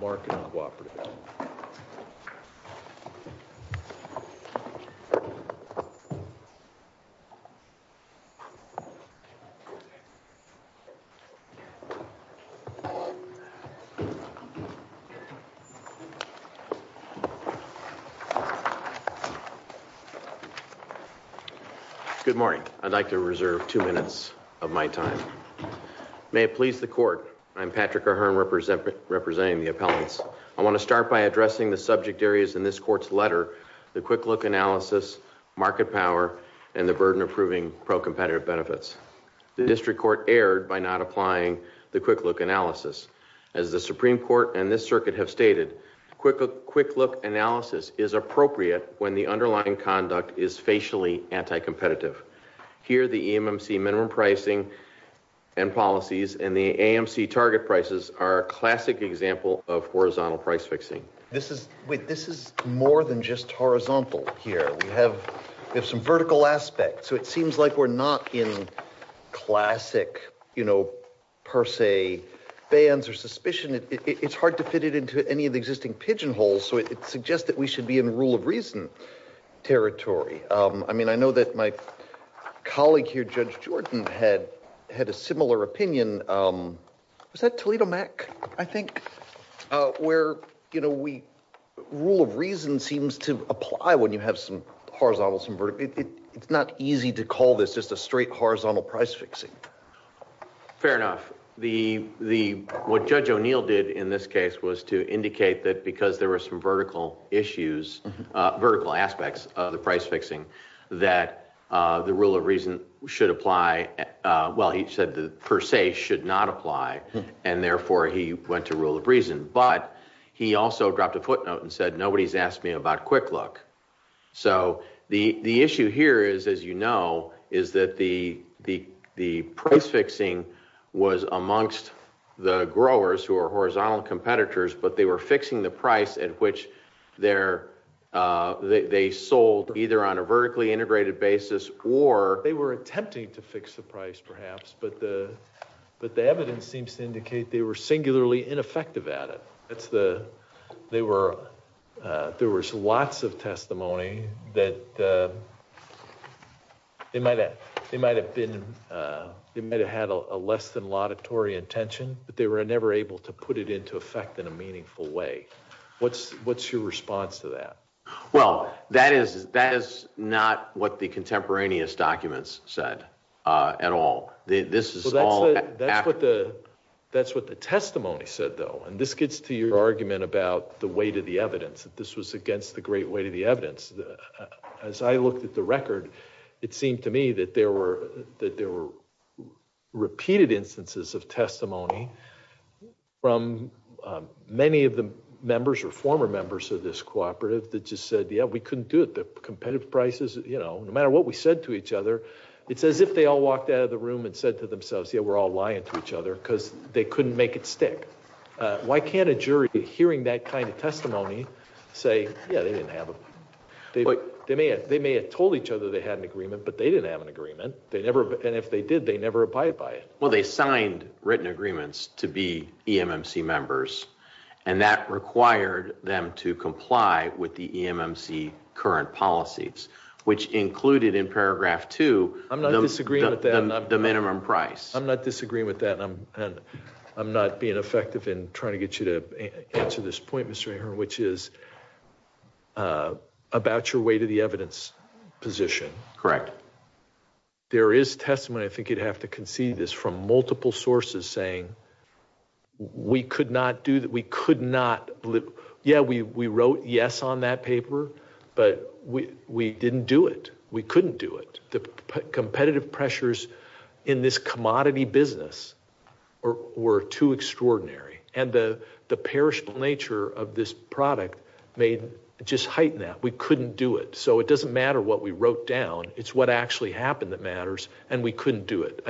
Market Cooperative. Good morning. I'd like to reserve two minutes of my time. May it please the court. I'm Patrick O'Hearn representing the appellants. I want to start by addressing the subject areas in this court's letter, the quick look analysis, market power, and the burden of proving pro-competitive benefits. The district court erred by not applying the quick look analysis. As the Supreme Court and this circuit have stated, quick look analysis is appropriate when the underlying conduct is facially anti-competitive. Here, the EMMC minimum pricing and policies and the AMC target prices are a classic example of horizontal price fixing. This is more than just horizontal here. We have some vertical aspects, so it seems like we're not in classic, you know, per se, bans or suspicion. It's hard to fit it into any of the existing pigeonholes, so it suggests that we should be in rule of reason territory. I mean, I know that my colleague here, Judge Jordan, had a similar opinion. Was that Toledo Mac, I think? Where, you know, rule of reason seems to apply when you have some horizontal, some vertical. It's not easy to call this just a straight horizontal price fixing. Fair enough. What Judge O'Neill did in this case was to indicate that because there were some vertical issues, vertical aspects of the price fixing, that the rule of reason should apply. Well, he said the per se should not apply, and therefore he went to rule of reason. But he also dropped a footnote and said, nobody's asked me about Quick Look. So the issue here is, as you know, is that the price fixing was amongst the growers who are horizontal competitors, but they were fixing the price at which they sold either on a vertically integrated basis or... They were attempting to fix the price perhaps, but the evidence seems to indicate they were singularly ineffective at it. There was lots of testimony that they might have been, they might have had a less than laudatory intention, but they were never able to put it into effect in a meaningful way. What's your response to that? Well, that is not what the contemporaneous documents said at all. This is all... That's what the testimony said, though, and this gets to your argument about the weight of the evidence, that this was against the great weight of the evidence. As I looked at the record, it seemed to me that there were repeated instances of testimony from many of the members or former members of this cooperative that just said, yeah, we couldn't do it. The competitive prices, you know, no matter what we said to each other, it's as if they all walked out of the room and said to themselves, yeah, we're all lying to each other because they couldn't make it stick. Why can't a jury hearing that kind of testimony say, yeah, they didn't have a... They may have told each other they had an agreement, but they didn't have an agreement, and if they did, they never abided by it. Well, they signed written agreements to be EMMC members, and that required them to comply with the EMMC current policies, which included in paragraph two... I'm not disagreeing with that. ...the minimum price. I'm not disagreeing with that, and I'm not being effective in trying to get you to answer this point, Mr. Ahern, which is about your weight of the evidence position. Correct. There is testimony, I think you'd have to concede this, from multiple sources saying we could not do... We could not... Yeah, we wrote yes on that paper, but we didn't do it. We couldn't do it. The competitive pressures in this commodity business were too extraordinary, and the perishable nature of this product just heightened that. We couldn't do it. So it doesn't matter what we wrote down. It's what actually happened that matters, and we couldn't do it.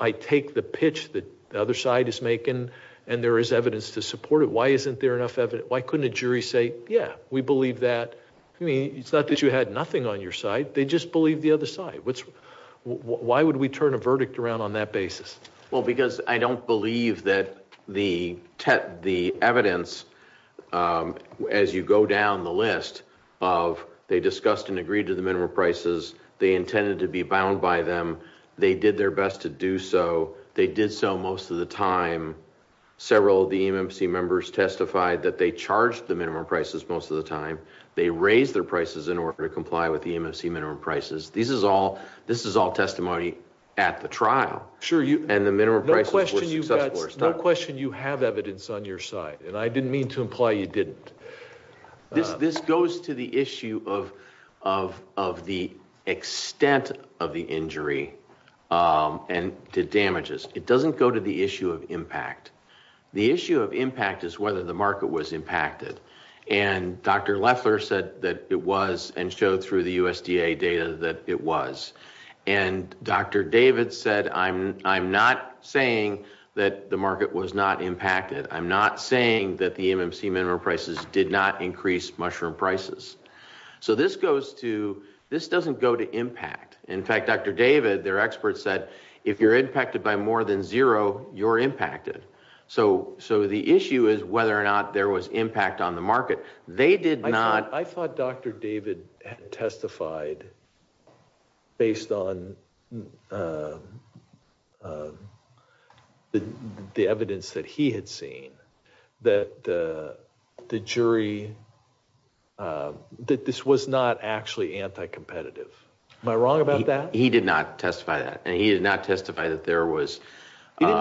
I take the pitch that the other side is making, and there is evidence to support it. Why isn't there enough evidence? Why couldn't a jury say, yeah, we believe that? It's not that you had nothing on your side. They just believe the other side. Why would we turn a verdict around on that basis? Well, because I don't believe that the evidence, as you go down the list of they discussed and agreed to the minimum prices, they intended to be bound by them, they did their best to do so, they did so most of the time. Several of the EMMC members testified that they charged the minimum prices most of the time. They raised their prices in order to comply with the EMMC minimum prices. This is all testimony at the trial. No question you have evidence on your side, and I didn't mean to imply you didn't. This goes to the issue of the extent of the injury and the damages. It doesn't go to the issue of impact. The issue of impact is whether the market was impacted, and Dr. Leffler said that it was and showed through the USDA data that it was. Dr. David said, I'm not saying that the market was not impacted. I'm not saying that the EMMC minimum prices did not increase mushroom prices. So this doesn't go to impact. In fact, Dr. David, their expert said, if you're impacted by more than zero, you're impacted. So the issue is whether or not there was impact on the market. I thought Dr. David testified based on the evidence that he had seen that this was not actually anti-competitive. Am I wrong about that? He did not testify that. And he did not testify that there was no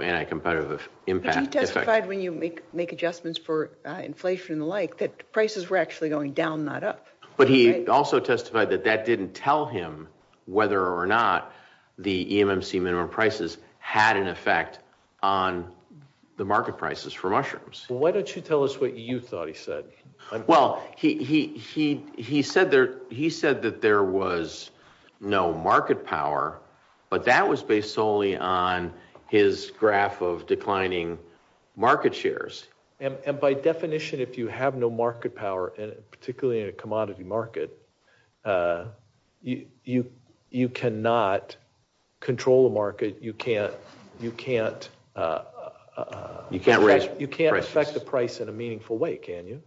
anti-competitive impact. He testified when you make adjustments for inflation and the like, that prices were actually going down, not up. But he also testified that that didn't tell him whether or not the EMMC minimum prices had an effect on the market prices for mushrooms. Why don't you tell us what you thought he said? Well, he said that there was no market power, but that was based solely on his graph of declining market shares. And by definition, if you have no market power, particularly in a commodity market, you cannot control the market. You can't affect the price in a meaningful way, can you?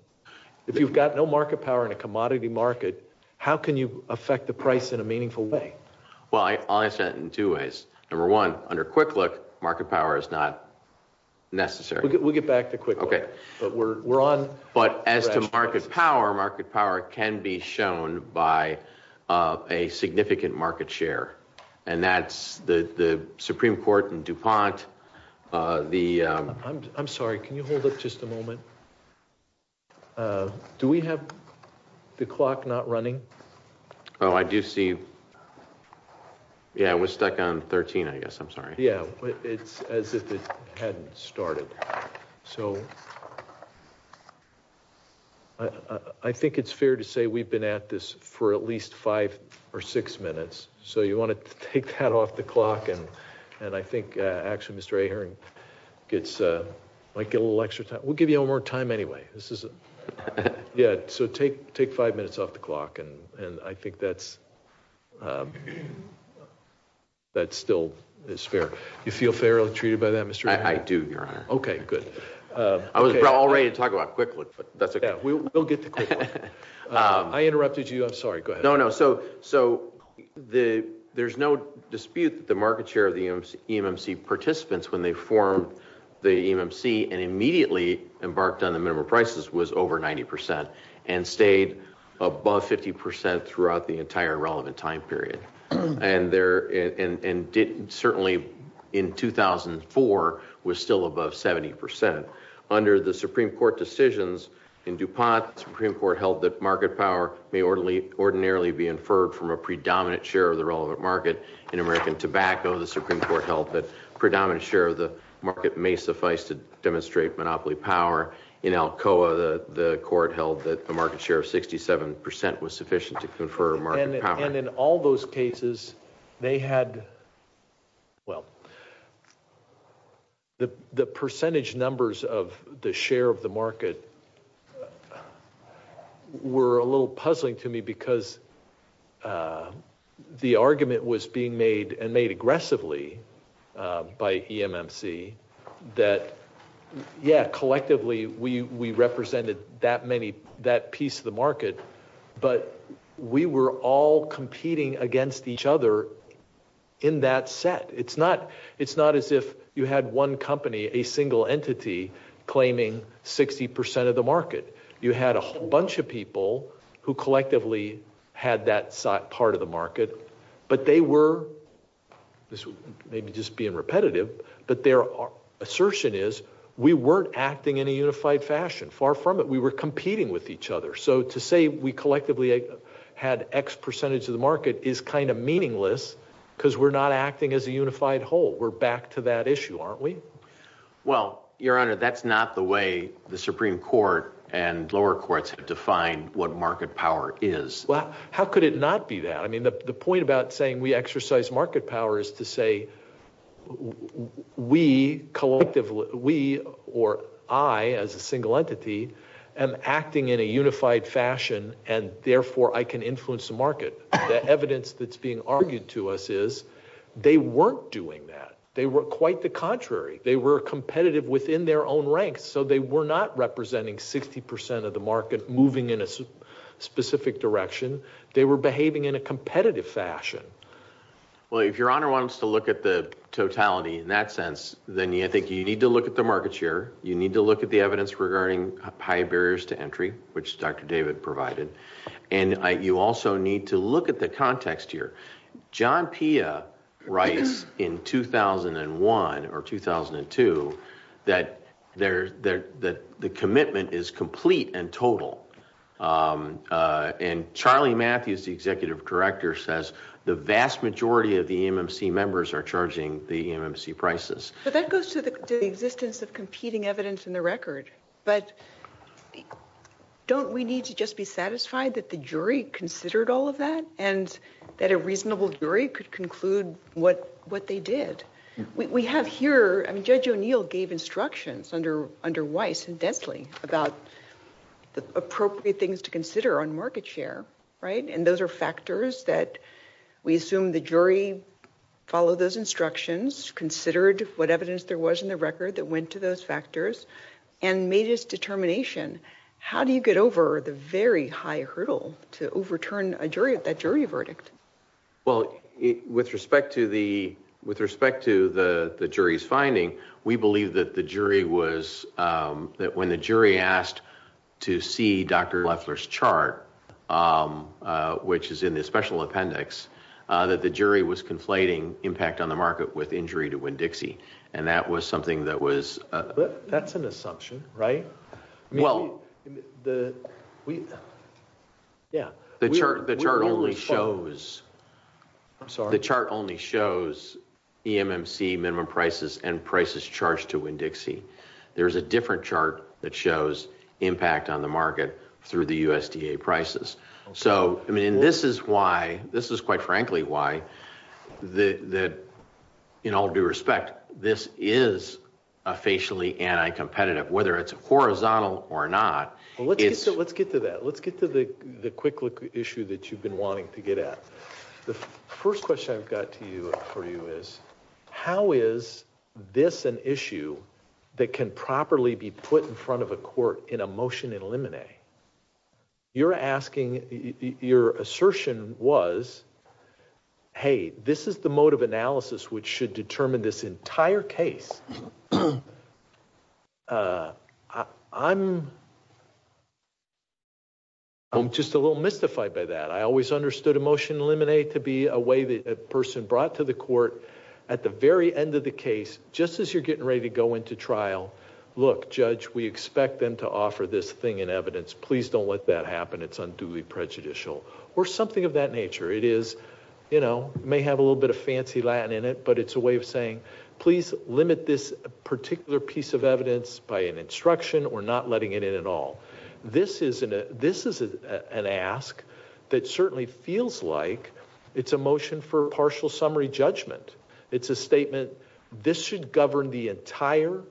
If you've got no market power in a commodity market, how can you affect the price in a meaningful way? Well, I'll answer that in two ways. Number one, under Quick Look, market power is not necessary. We'll get back to Quick Look, but we're on. But as to market power, market power can be shown by a significant market share, and that's the Supreme Court in DuPont. I'm sorry, can you hold up just a moment? Do we have the clock not running? Oh, I do see, yeah, it was stuck on 13, I guess, I'm sorry. Yeah, it's as if it hadn't started. So I think it's fair to say we've been at this for at least five or six minutes. So you want to take that off the clock, and I think actually Mr. Ahering might get a little extra time. We'll give you a little more time anyway. Yeah, so take five minutes off the clock, and I think that still is fair. Do you feel fairly treated by that, Mr. Ahering? I do, Your Honor. Okay, good. I was all ready to talk about Quick Look, but that's okay. Yeah, we'll get to Quick Look. I interrupted you, I'm sorry, go ahead. No, no, so there's no dispute that the market share of the EMMC participants when they formed the EMMC and immediately embarked on the minimum prices was over 90% and stayed above 50% throughout the entire relevant time period. And certainly in 2004 was still above 70%. Under the Supreme Court decisions in DuPont, the Supreme Court held that market power may ordinarily be inferred from a predominant share of the relevant market. In American Tobacco, the Supreme Court held that predominant share of the market may suffice to demonstrate monopoly power. In Alcoa, the court held that the market share of 67% was sufficient to confer market power. And in all those cases, they had, well, the percentage numbers of the share of the market were a little puzzling to me because the argument was being made and made aggressively by EMMC that, yeah, collectively we represented that piece of the market, but we were all competing against each other in that set. It's not as if you had one company, a single entity claiming 60% of the market. You had a whole bunch of people who collectively had that part of the market, but they were, maybe just being repetitive, but their assertion is we weren't acting in a unified fashion. Far from it. We were competing with each other. So to say we collectively had X percentage of the market is kind of meaningless because we're not acting as a unified whole. We're back to that issue, aren't we? Well, Your Honor, that's not the way the Supreme Court and lower courts have defined what market power is. Well, how could it not be that? I mean, the point about saying we exercise market power is to say we collectively, we or I as a single entity am acting in a unified fashion and therefore I can influence the market. The evidence that's being argued to us is they weren't doing that. They were quite the contrary. They were competitive within their own ranks, so they were not representing 60% of the market moving in a specific direction. They were behaving in a competitive fashion. Well, if Your Honor wants to look at the totality in that sense, then I think you need to look at the market share. You need to look at the evidence regarding high barriers to entry, which Dr. David provided, and you also need to look at the context here. John Pia writes in 2001 or 2002 that the commitment is complete and total, and Charlie Matthews, the executive director, says the vast majority of the EMMC members are charging the EMMC prices. But that goes to the existence of competing evidence in the record, but don't we need to just be satisfied that the jury considered all of that and that a reasonable jury could conclude what they did? We have here, Judge O'Neill gave instructions under Weiss and Densley about the appropriate things to consider on market share, right? And those are factors that we assume the jury followed those instructions, considered what evidence there was in the record that went to those factors, and made its determination. How do you get over the very high hurdle to overturn that jury verdict? Well, with respect to the jury's finding, we believe that when the jury asked to see Dr. Leffler's chart, which is in the special appendix, that the jury was conflating impact on the market with injury to Winn-Dixie, and that was something that was... But that's an assumption, right? The chart only shows EMMC minimum prices and prices charged to Winn-Dixie. There's a different chart that shows impact on the market through the USDA prices. So, I mean, this is why, this is quite frankly why, in all due respect, this is a facially anti-competitive, whether it's horizontal or not. Well, let's get to that. Let's get to the quick issue that you've been wanting to get at. The first question I've got for you is, how is this an issue that can properly be put in front of a court in a motion in limine? You're asking, your assertion was, hey, this is the mode of analysis which should determine this entire case. I'm just a little mystified by that. I always understood a motion in limine to be a way that a person brought to the court at the very end of the case, just as you're getting ready to go into trial, look, judge, we expect them to offer this thing in evidence. Please don't let that happen. It's unduly prejudicial, or something of that nature. It is, you know, may have a little bit of fancy Latin in it, but it's a way of saying, please limit this particular piece of evidence by an instruction. We're not letting it in at all. This is an ask that certainly feels like it's a motion for partial summary judgment. It's a statement, this should govern the entire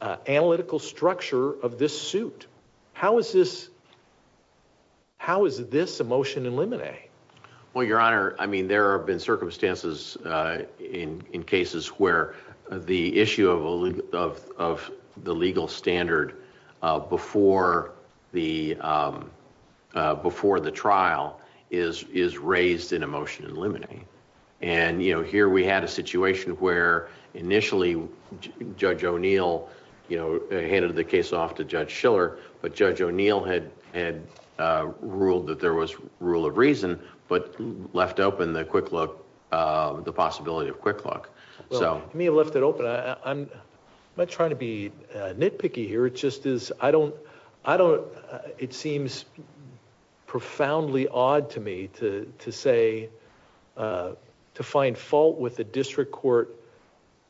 analytical structure of this suit. How is this a motion in limine? Well, your honor, I mean, there have been circumstances in cases where the issue of the legal standard before the trial is raised in a motion in limine. And, you know, here we had a situation where initially Judge O'Neill, you know, handed the case off to Judge Schiller, but Judge O'Neill had ruled that there was rule of reason, but left open the quick look, the possibility of quick look. Well, he may have left it open. I'm not trying to be nitpicky here. It just is, I don't, I don't, it seems profoundly odd to me to say, to find fault with the district court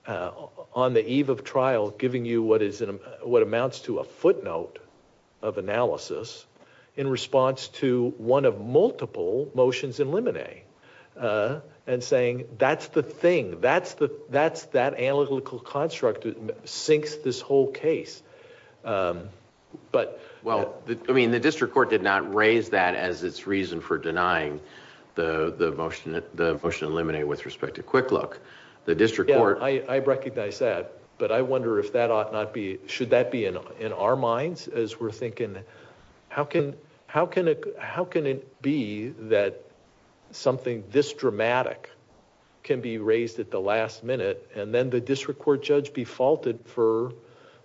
on the eve of trial, giving you what is, what amounts to a footnote of analysis in response to one of multiple motions in limine. And saying, that's the thing. That's the, that's that analytical construct that sinks this whole case. But, well, I mean, the district court did not raise that as its reason for denying the motion, the motion in limine with respect to quick look. The district court. I recognize that, but I wonder if that ought not be, should that be in our minds as we're thinking, I mean, how can, how can it, how can it be that something this dramatic can be raised at the last minute, and then the district court judge be faulted for,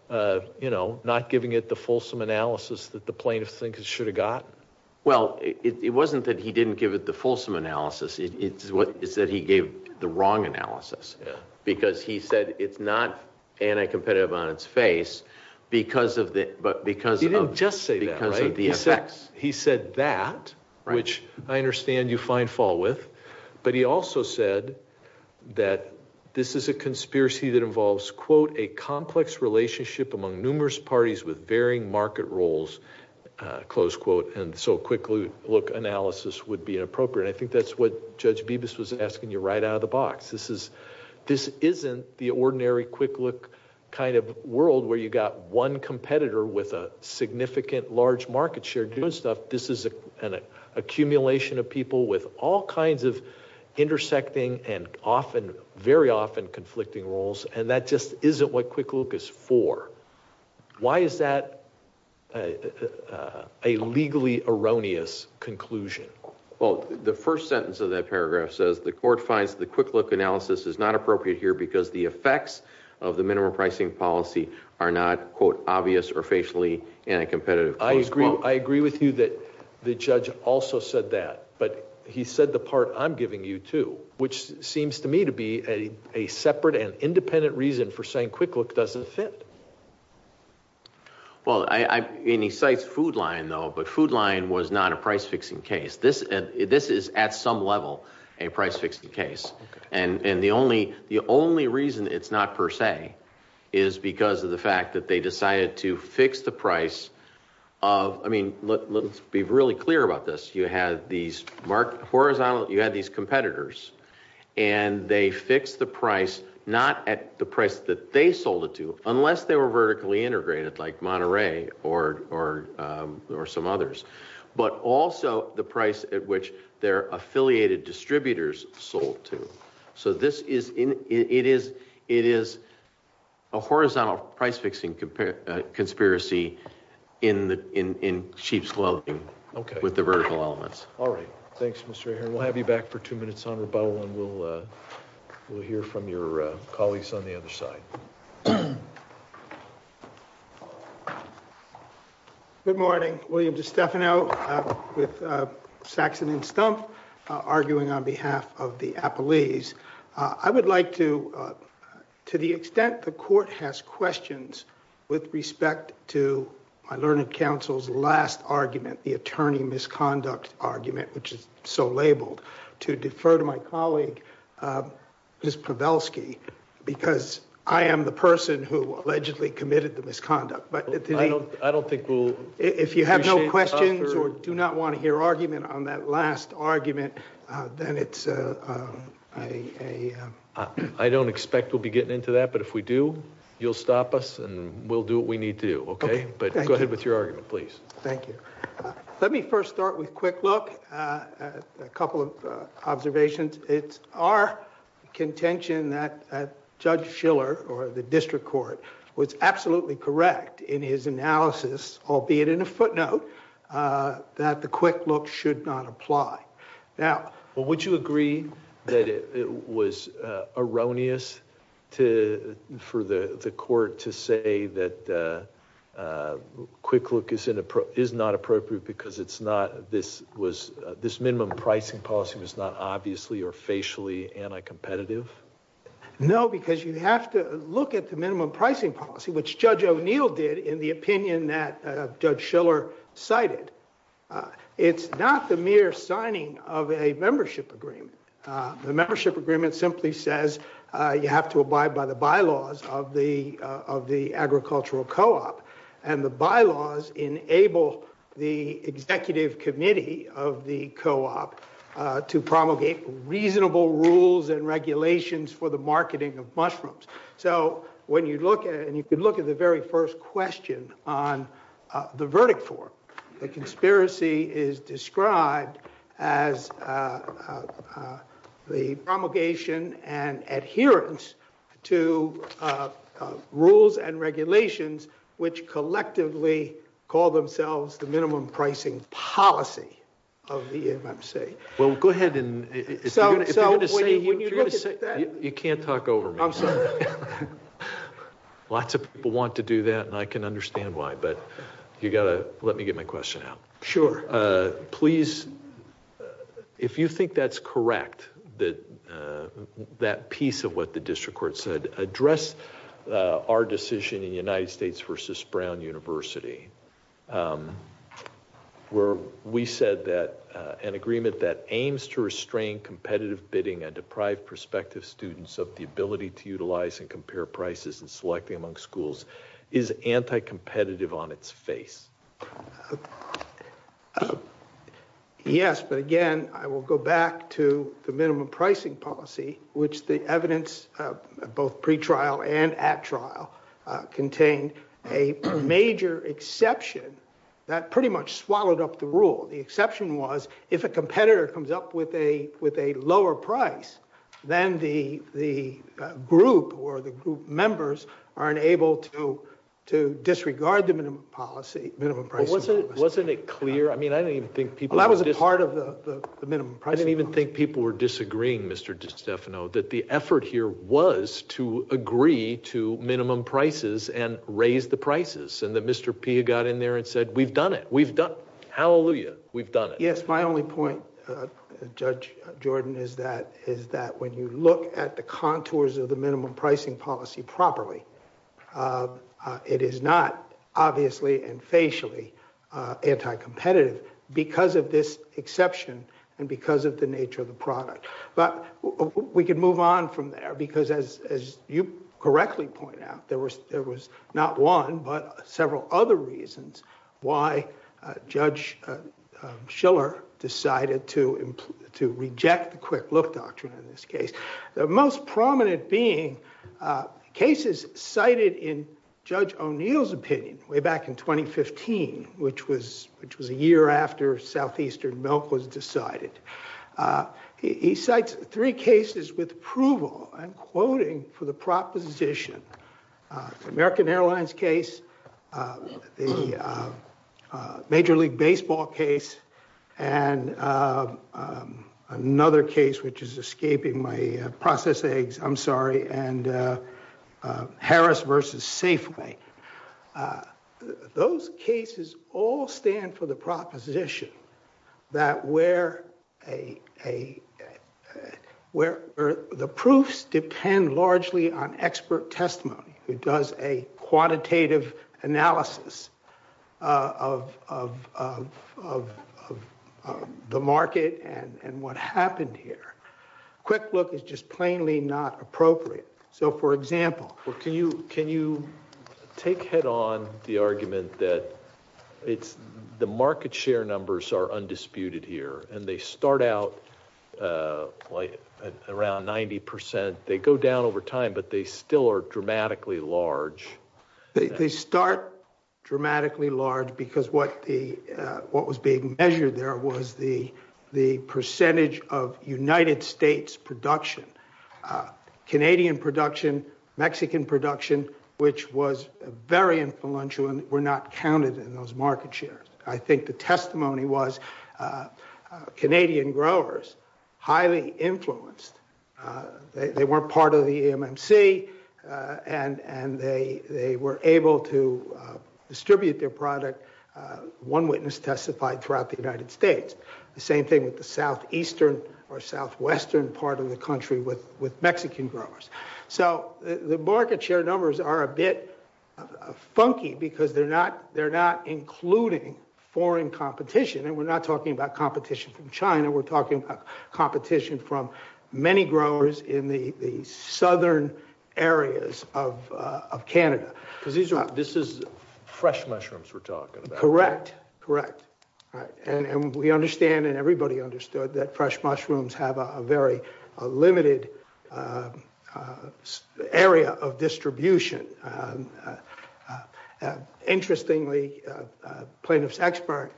you know, not giving it the fulsome analysis that the plaintiff thinks it should have gotten? Well, it wasn't that he didn't give it the fulsome analysis. It's what, it's that he gave the wrong analysis, because he said it's not anti-competitive on its face because of the, but because of the effects. He didn't just say that, right? He said that, which I understand you find fault with. But he also said that this is a conspiracy that involves, quote, a complex relationship among numerous parties with varying market roles, close quote, and so quick look analysis would be inappropriate. I think that's what Judge Bibas was asking you right out of the box. This is, this isn't the ordinary quick look kind of world where you got one competitor with a significant large market share doing stuff. This is an accumulation of people with all kinds of intersecting and often, very often conflicting roles, and that just isn't what quick look is for. Why is that a legally erroneous conclusion? Well, the first sentence of that paragraph says, the court finds the quick look analysis is not appropriate here because the effects of the minimum pricing policy are not, quote, obvious or facially anti-competitive, close quote. I agree with you that the judge also said that, but he said the part I'm giving you too, which seems to me to be a separate and independent reason for saying quick look doesn't fit. Well, and he cites Food Lion though, but Food Lion was not a price-fixing case. This is at some level a price-fixing case. And the only reason it's not per se is because of the fact that they decided to fix the price of, I mean, let's be really clear about this. You had these competitors and they fixed the price not at the price that they sold it to, unless they were vertically integrated like Monterey or some others, but also the price at which their affiliated distributors sold to. So this is, it is a horizontal price-fixing conspiracy in sheep's clothing with the vertical elements. All right. Thanks, Mr. Ahern. We'll have you back for two minutes on rebuttal, and we'll hear from your colleagues on the other side. Good morning. William DeStefano with Saxon & Stumpf, arguing on behalf of the Appalese. I would like to, to the extent the court has questions with respect to my learned counsel's last argument, the attorney misconduct argument, which is so labeled, to defer to my colleague, Ms. Pavelsky, because I am the person who allegedly committed the misconduct. But I don't think we'll. If you have no questions or do not want to hear argument on that last argument, then it's a. I don't expect we'll be getting into that, but if we do, you'll stop us and we'll do what we need to do. OK, but go ahead with your argument, please. Thank you. Let me first start with a quick look at a couple of observations. It's our contention that Judge Schiller or the district court was absolutely correct in his analysis, albeit in a footnote, that the quick look should not apply. Now, would you agree that it was erroneous to for the court to say that a quick look is inappropriate, because it's not this was this minimum pricing policy was not obviously or facially anti-competitive? No, because you have to look at the minimum pricing policy, which Judge O'Neill did in the opinion that Judge Schiller cited. It's not the mere signing of a membership agreement. The membership agreement simply says you have to abide by the bylaws of the of the agricultural co-op. And the bylaws enable the executive committee of the co-op to promulgate reasonable rules and regulations for the marketing of mushrooms. So when you look and you can look at the very first question on the verdict for the conspiracy is described as the promulgation and adherence to rules and regulations, which collectively call themselves the minimum pricing policy of the AMC. Well, go ahead and so you can't talk over. Lots of people want to do that, and I can understand why. But you got to let me get my question out. Sure, please. If you think that's correct, that that piece of what the district court said address our decision in the United States versus Brown University, where we said that an agreement that aims to restrain competitive bidding and deprive prospective students of the ability to utilize and compare prices and selecting among schools is anti competitive on its face. Yes, but again, I will go back to the minimum pricing policy, which the evidence of both pretrial and at trial contained a major exception that pretty much swallowed up the rule. The exception was if a competitor comes up with a with a lower price than the the group or the group members are unable to to disregard the minimum policy. Minimum price wasn't it clear? I mean, I don't even think people that was a part of the minimum price. I don't even think people were disagreeing, Mr. Stefano, that the effort here was to agree to minimum prices and raise the prices. And that Mr. Pia got in there and said, we've done it. We've done. Hallelujah. We've done it. Yes, my only point, Judge Jordan, is that is that when you look at the contours of the minimum pricing policy properly. It is not obviously and facially anti competitive because of this exception and because of the nature of the product. But we can move on from there because as as you correctly point out, there was there was not one, but several other reasons why Judge Schiller decided to to reject the quick look doctrine in this case. The most prominent being cases cited in Judge O'Neill's opinion way back in 2015, which was which was a year after southeastern milk was decided. He cites three cases with approval and quoting for the proposition American Airlines case, the Major League Baseball case and another case, which is escaping my process eggs. I'm sorry. And Harris versus Safeway. Those cases all stand for the proposition that where a where the proofs depend largely on expert testimony. It does a quantitative analysis of of of of of the market and what happened here. Quick look is just plainly not appropriate. So, for example, can you can you take head on the argument that it's the market share numbers are undisputed here and they start out like around 90 percent? They go down over time, but they still are dramatically large. They start dramatically large because what the what was being measured there was the the percentage of United States production. Canadian production, Mexican production, which was very influential and were not counted in those market shares. I think the testimony was Canadian growers highly influenced. They weren't part of the MNC and and they they were able to distribute their product. One witness testified throughout the United States. The same thing with the southeastern or southwestern part of the country with with Mexican growers. So the market share numbers are a bit funky because they're not they're not including foreign competition. And we're not talking about competition from China. We're talking about competition from many growers in the southern areas of Canada. Because this is fresh mushrooms we're talking about. Correct. Correct. And we understand and everybody understood that fresh mushrooms have a very limited area of distribution. Interestingly, plaintiff's expert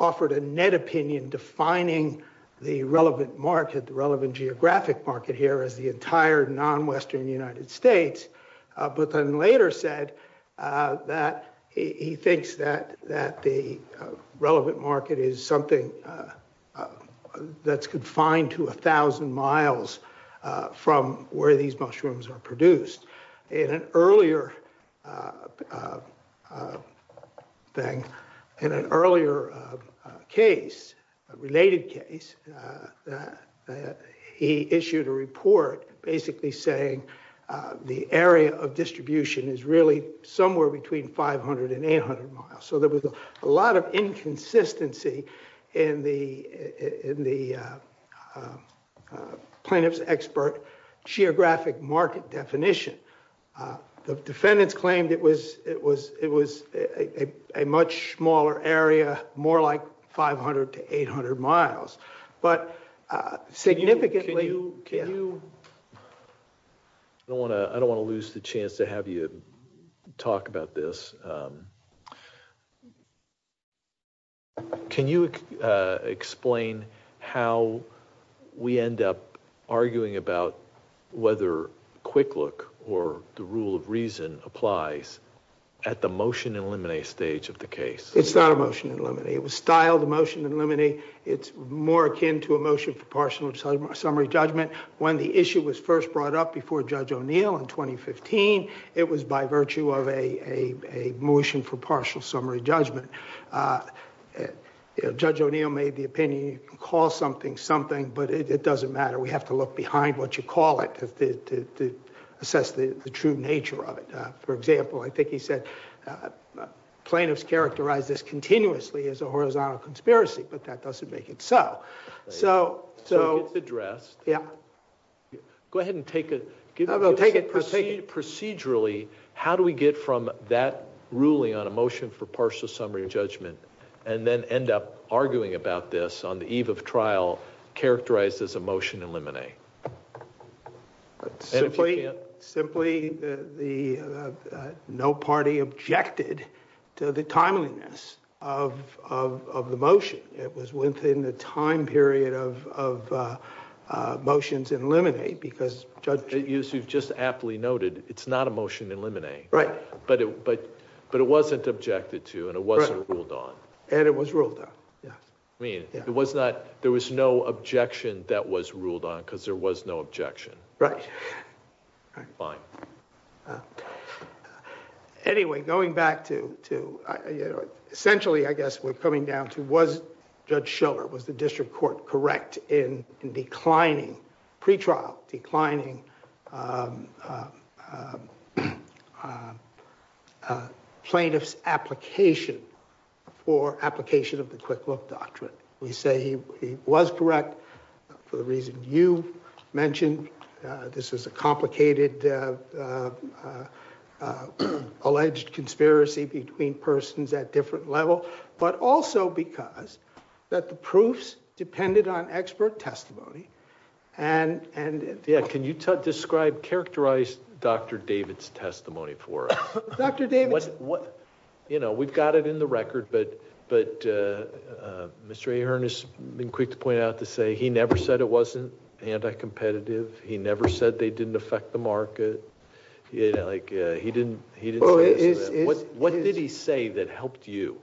offered a net opinion defining the relevant market, the relevant geographic market here as the entire non-western United States. But then later said that he thinks that that the relevant market is something that's confined to a thousand miles from where these mushrooms are produced. In an earlier thing, in an earlier case, a related case, he issued a report basically saying the area of distribution is really somewhere between 500 and 800 miles. So there was a lot of inconsistency in the plaintiff's expert geographic market definition. The defendants claimed it was it was it was a much smaller area, more like 500 to 800 miles. But significantly. I don't want to I don't want to lose the chance to have you talk about this. Can you explain how we end up arguing about whether quick look or the rule of reason applies at the motion eliminate stage of the case? It's not a motion. It was styled a motion. It's more akin to a motion for partial summary judgment. When the issue was first brought up before Judge O'Neill in 2015, it was by virtue of a motion for partial summary judgment. Judge O'Neill made the opinion. Call something something, but it doesn't matter. We have to look behind what you call it to assess the true nature of it. For example, I think he said plaintiffs characterize this continuously as a horizontal conspiracy, but that doesn't make it so. So. So it's addressed. Yeah. Go ahead and take it. Take it. Proceed. Procedurally. How do we get from that ruling on a motion for partial summary judgment and then end up arguing about this on the eve of trial characterized as a motion eliminate? Simply, simply the no party objected to the timeliness of of of the motion. It was within the time period of of motions eliminate because judge you've just aptly noted. It's not a motion eliminate. Right. But but but it wasn't objected to and it wasn't ruled on and it was ruled out. I mean, it was not there was no objection that was ruled on because there was no objection. Right. Fine. Anyway, going back to two. Essentially, I guess we're coming down to was Judge Schiller was the district court correct in declining pretrial declining plaintiffs application for application of the quick look doctrine? We say he was correct for the reason you mentioned. This is a complicated alleged conspiracy between persons at different level, but also because that the proofs depended on expert testimony and and. Yeah. Can you describe characterized Dr. David's testimony for Dr. David? You know, we've got it in the record, but but Mr. Ernest been quick to point out to say he never said it wasn't anti-competitive. He never said they didn't affect the market like he didn't. He didn't. What did he say that helped you?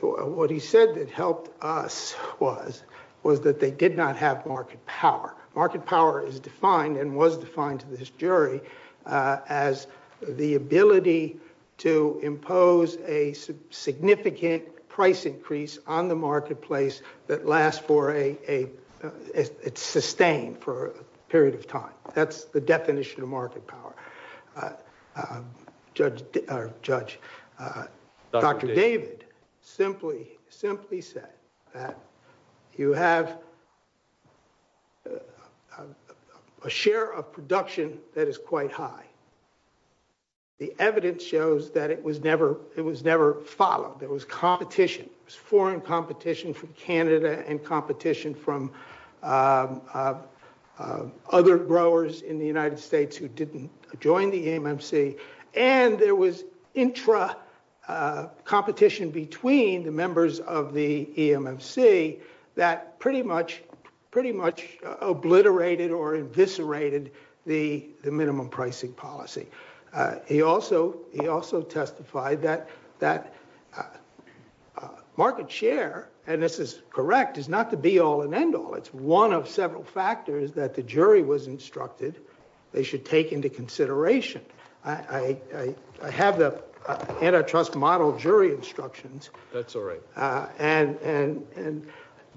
What he said that helped us was was that they did not have market power. Market power is defined and was defined to this jury as the ability to impose a significant price increase on the marketplace that lasts for a sustained for a period of time. That's the definition of market power. Judge Judge Dr. David simply simply said that you have a share of production that is quite high. The evidence shows that it was never it was never followed. There was competition, foreign competition from Canada and competition from other growers in the United States who didn't join the EMC. And there was intra competition between the members of the EMC that pretty much pretty much obliterated or eviscerated the minimum pricing policy. He also he also testified that that market share and this is correct is not to be all and end all. It's one of several factors that the jury was instructed. They should take into consideration. I have the antitrust model jury instructions. That's all right. And and and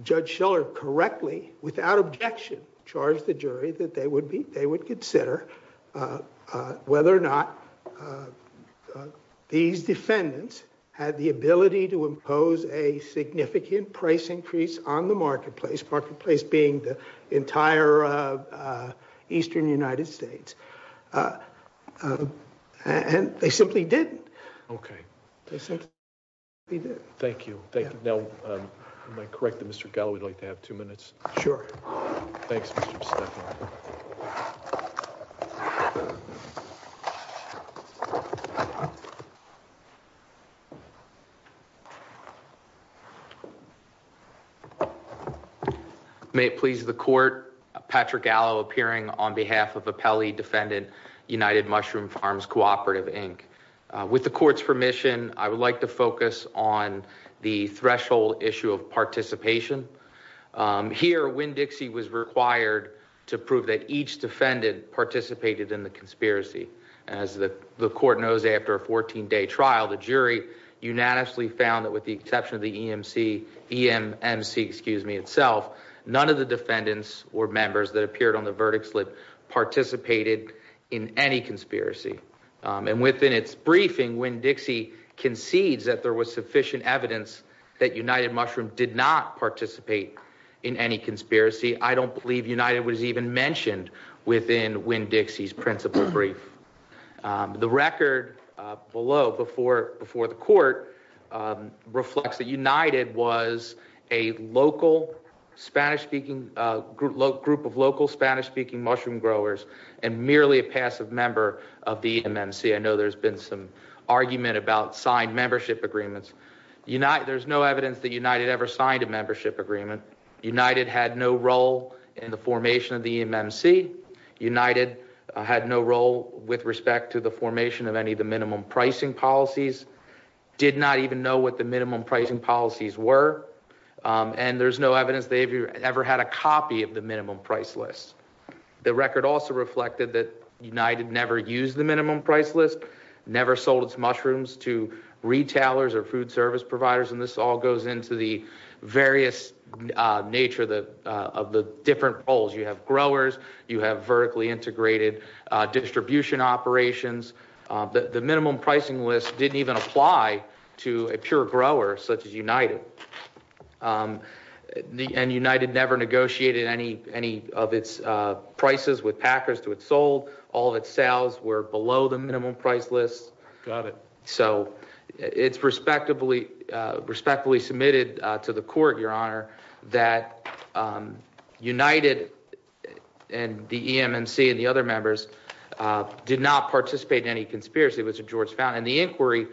Judge Schiller correctly, without objection, charged the jury that they would be they would consider whether or not these defendants had the ability to impose a significant price increase on the marketplace. Marketplace being the entire eastern United States. And they simply didn't. OK. He did. Thank you. Thank you. Now, am I correct that Mr. Gallow would like to have two minutes? Sure. Thanks. Thank you. May it please the court. Patrick Gallo appearing on behalf of the Pele defendant, United Mushroom Farms Cooperative Inc. With the court's permission, I would like to focus on the threshold issue of participation. Here, Winn-Dixie was required to prove that each defendant participated in the conspiracy. As the court knows, after a 14 day trial, the jury unanimously found that with the exception of the EMC, EMMC, excuse me, itself, none of the defendants or members that appeared on the verdict slip participated in any conspiracy. And within its briefing, Winn-Dixie concedes that there was sufficient evidence that United Mushroom did not participate in any conspiracy. I don't believe United was even mentioned within Winn-Dixie's principle brief. The record below before the court reflects that United was a local Spanish-speaking group of local Spanish-speaking mushroom growers and merely a passive member of the EMMC. I know there's been some argument about signed membership agreements. There's no evidence that United ever signed a membership agreement. United had no role in the formation of the EMMC. United had no role with respect to the formation of any of the minimum pricing policies. Did not even know what the minimum pricing policies were. And there's no evidence they ever had a copy of the minimum price list. The record also reflected that United never used the minimum price list, never sold its mushrooms to retailers or food service providers. And this all goes into the various nature of the different roles. You have growers, you have vertically integrated distribution operations. The minimum pricing list didn't even apply to a pure grower such as United. And United never negotiated any of its prices with Packers to its sold. All of its sales were below the minimum price list. So it's respectfully submitted to the court, Your Honor, that United and the EMMC and the other members did not participate in any conspiracy with George Fountain. And the inquiry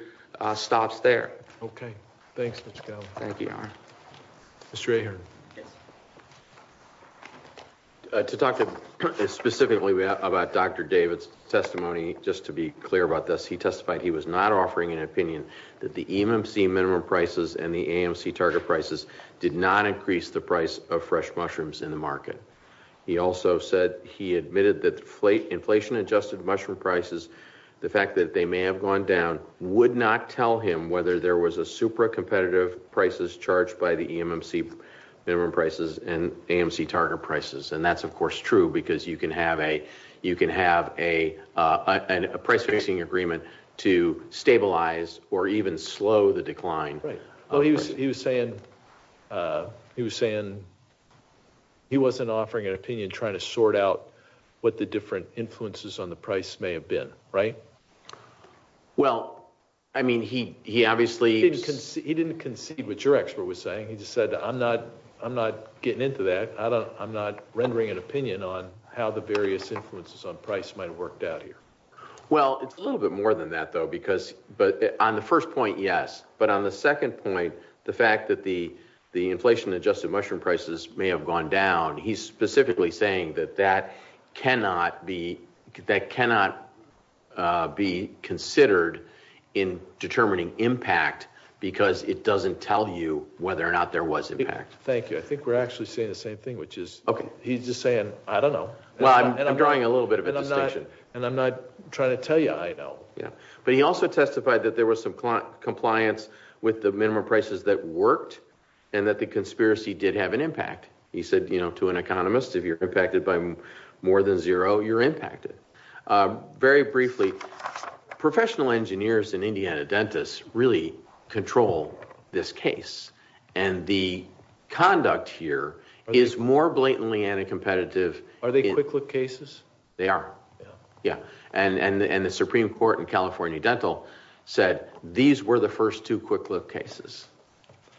stops there. Okay. Thanks, Mr. Cowley. Thank you, Your Honor. Mr. Ahern. Yes. To talk specifically about Dr. David's testimony, just to be clear about this, he testified he was not offering an opinion that the EMMC minimum prices and the AMC target prices did not increase the price of fresh mushrooms in the market. He also said he admitted that inflation-adjusted mushroom prices, the fact that they may have gone down, would not tell him whether there was a super competitive prices charged by the EMMC minimum prices and AMC target prices. And that's, of course, true because you can have a price-fixing agreement to stabilize or even slow the decline. Right. He was saying he wasn't offering an opinion trying to sort out what the different influences on the price may have been, right? Well, I mean, he obviously… He didn't concede what your expert was saying. He just said, I'm not getting into that. I'm not rendering an opinion on how the various influences on price might have worked out here. Well, it's a little bit more than that, though, because on the first point, yes. But on the second point, the fact that the inflation-adjusted mushroom prices may have gone down, he's specifically saying that that cannot be considered in determining impact because it doesn't tell you whether or not there was impact. Thank you. I think we're actually saying the same thing, which is he's just saying, I don't know. Well, I'm drawing a little bit of a distinction. And I'm not trying to tell you I know. But he also testified that there was some compliance with the minimum prices that worked and that the conspiracy did have an impact. He said, you know, to an economist, if you're impacted by more than zero, you're impacted. Very briefly, professional engineers in Indiana dentists really control this case. And the conduct here is more blatantly anti-competitive. Are they quick look cases? They are. Yeah. And the Supreme Court in California Dental said these were the first two quick look cases.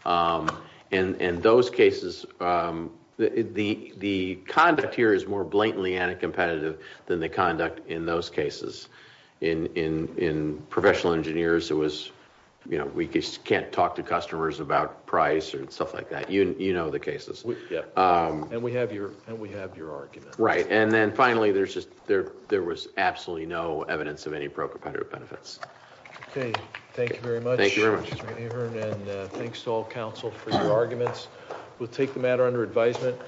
And those cases, the conduct here is more blatantly anti-competitive than the conduct in those cases. In professional engineers, it was, you know, we can't talk to customers about price or stuff like that. You know the cases. Yeah. And we have your argument. Right. And then finally, there was absolutely no evidence of any pro-competitive benefits. Okay. Thank you very much. Thank you very much. And thanks to all counsel for your arguments. We'll take the matter under advisement.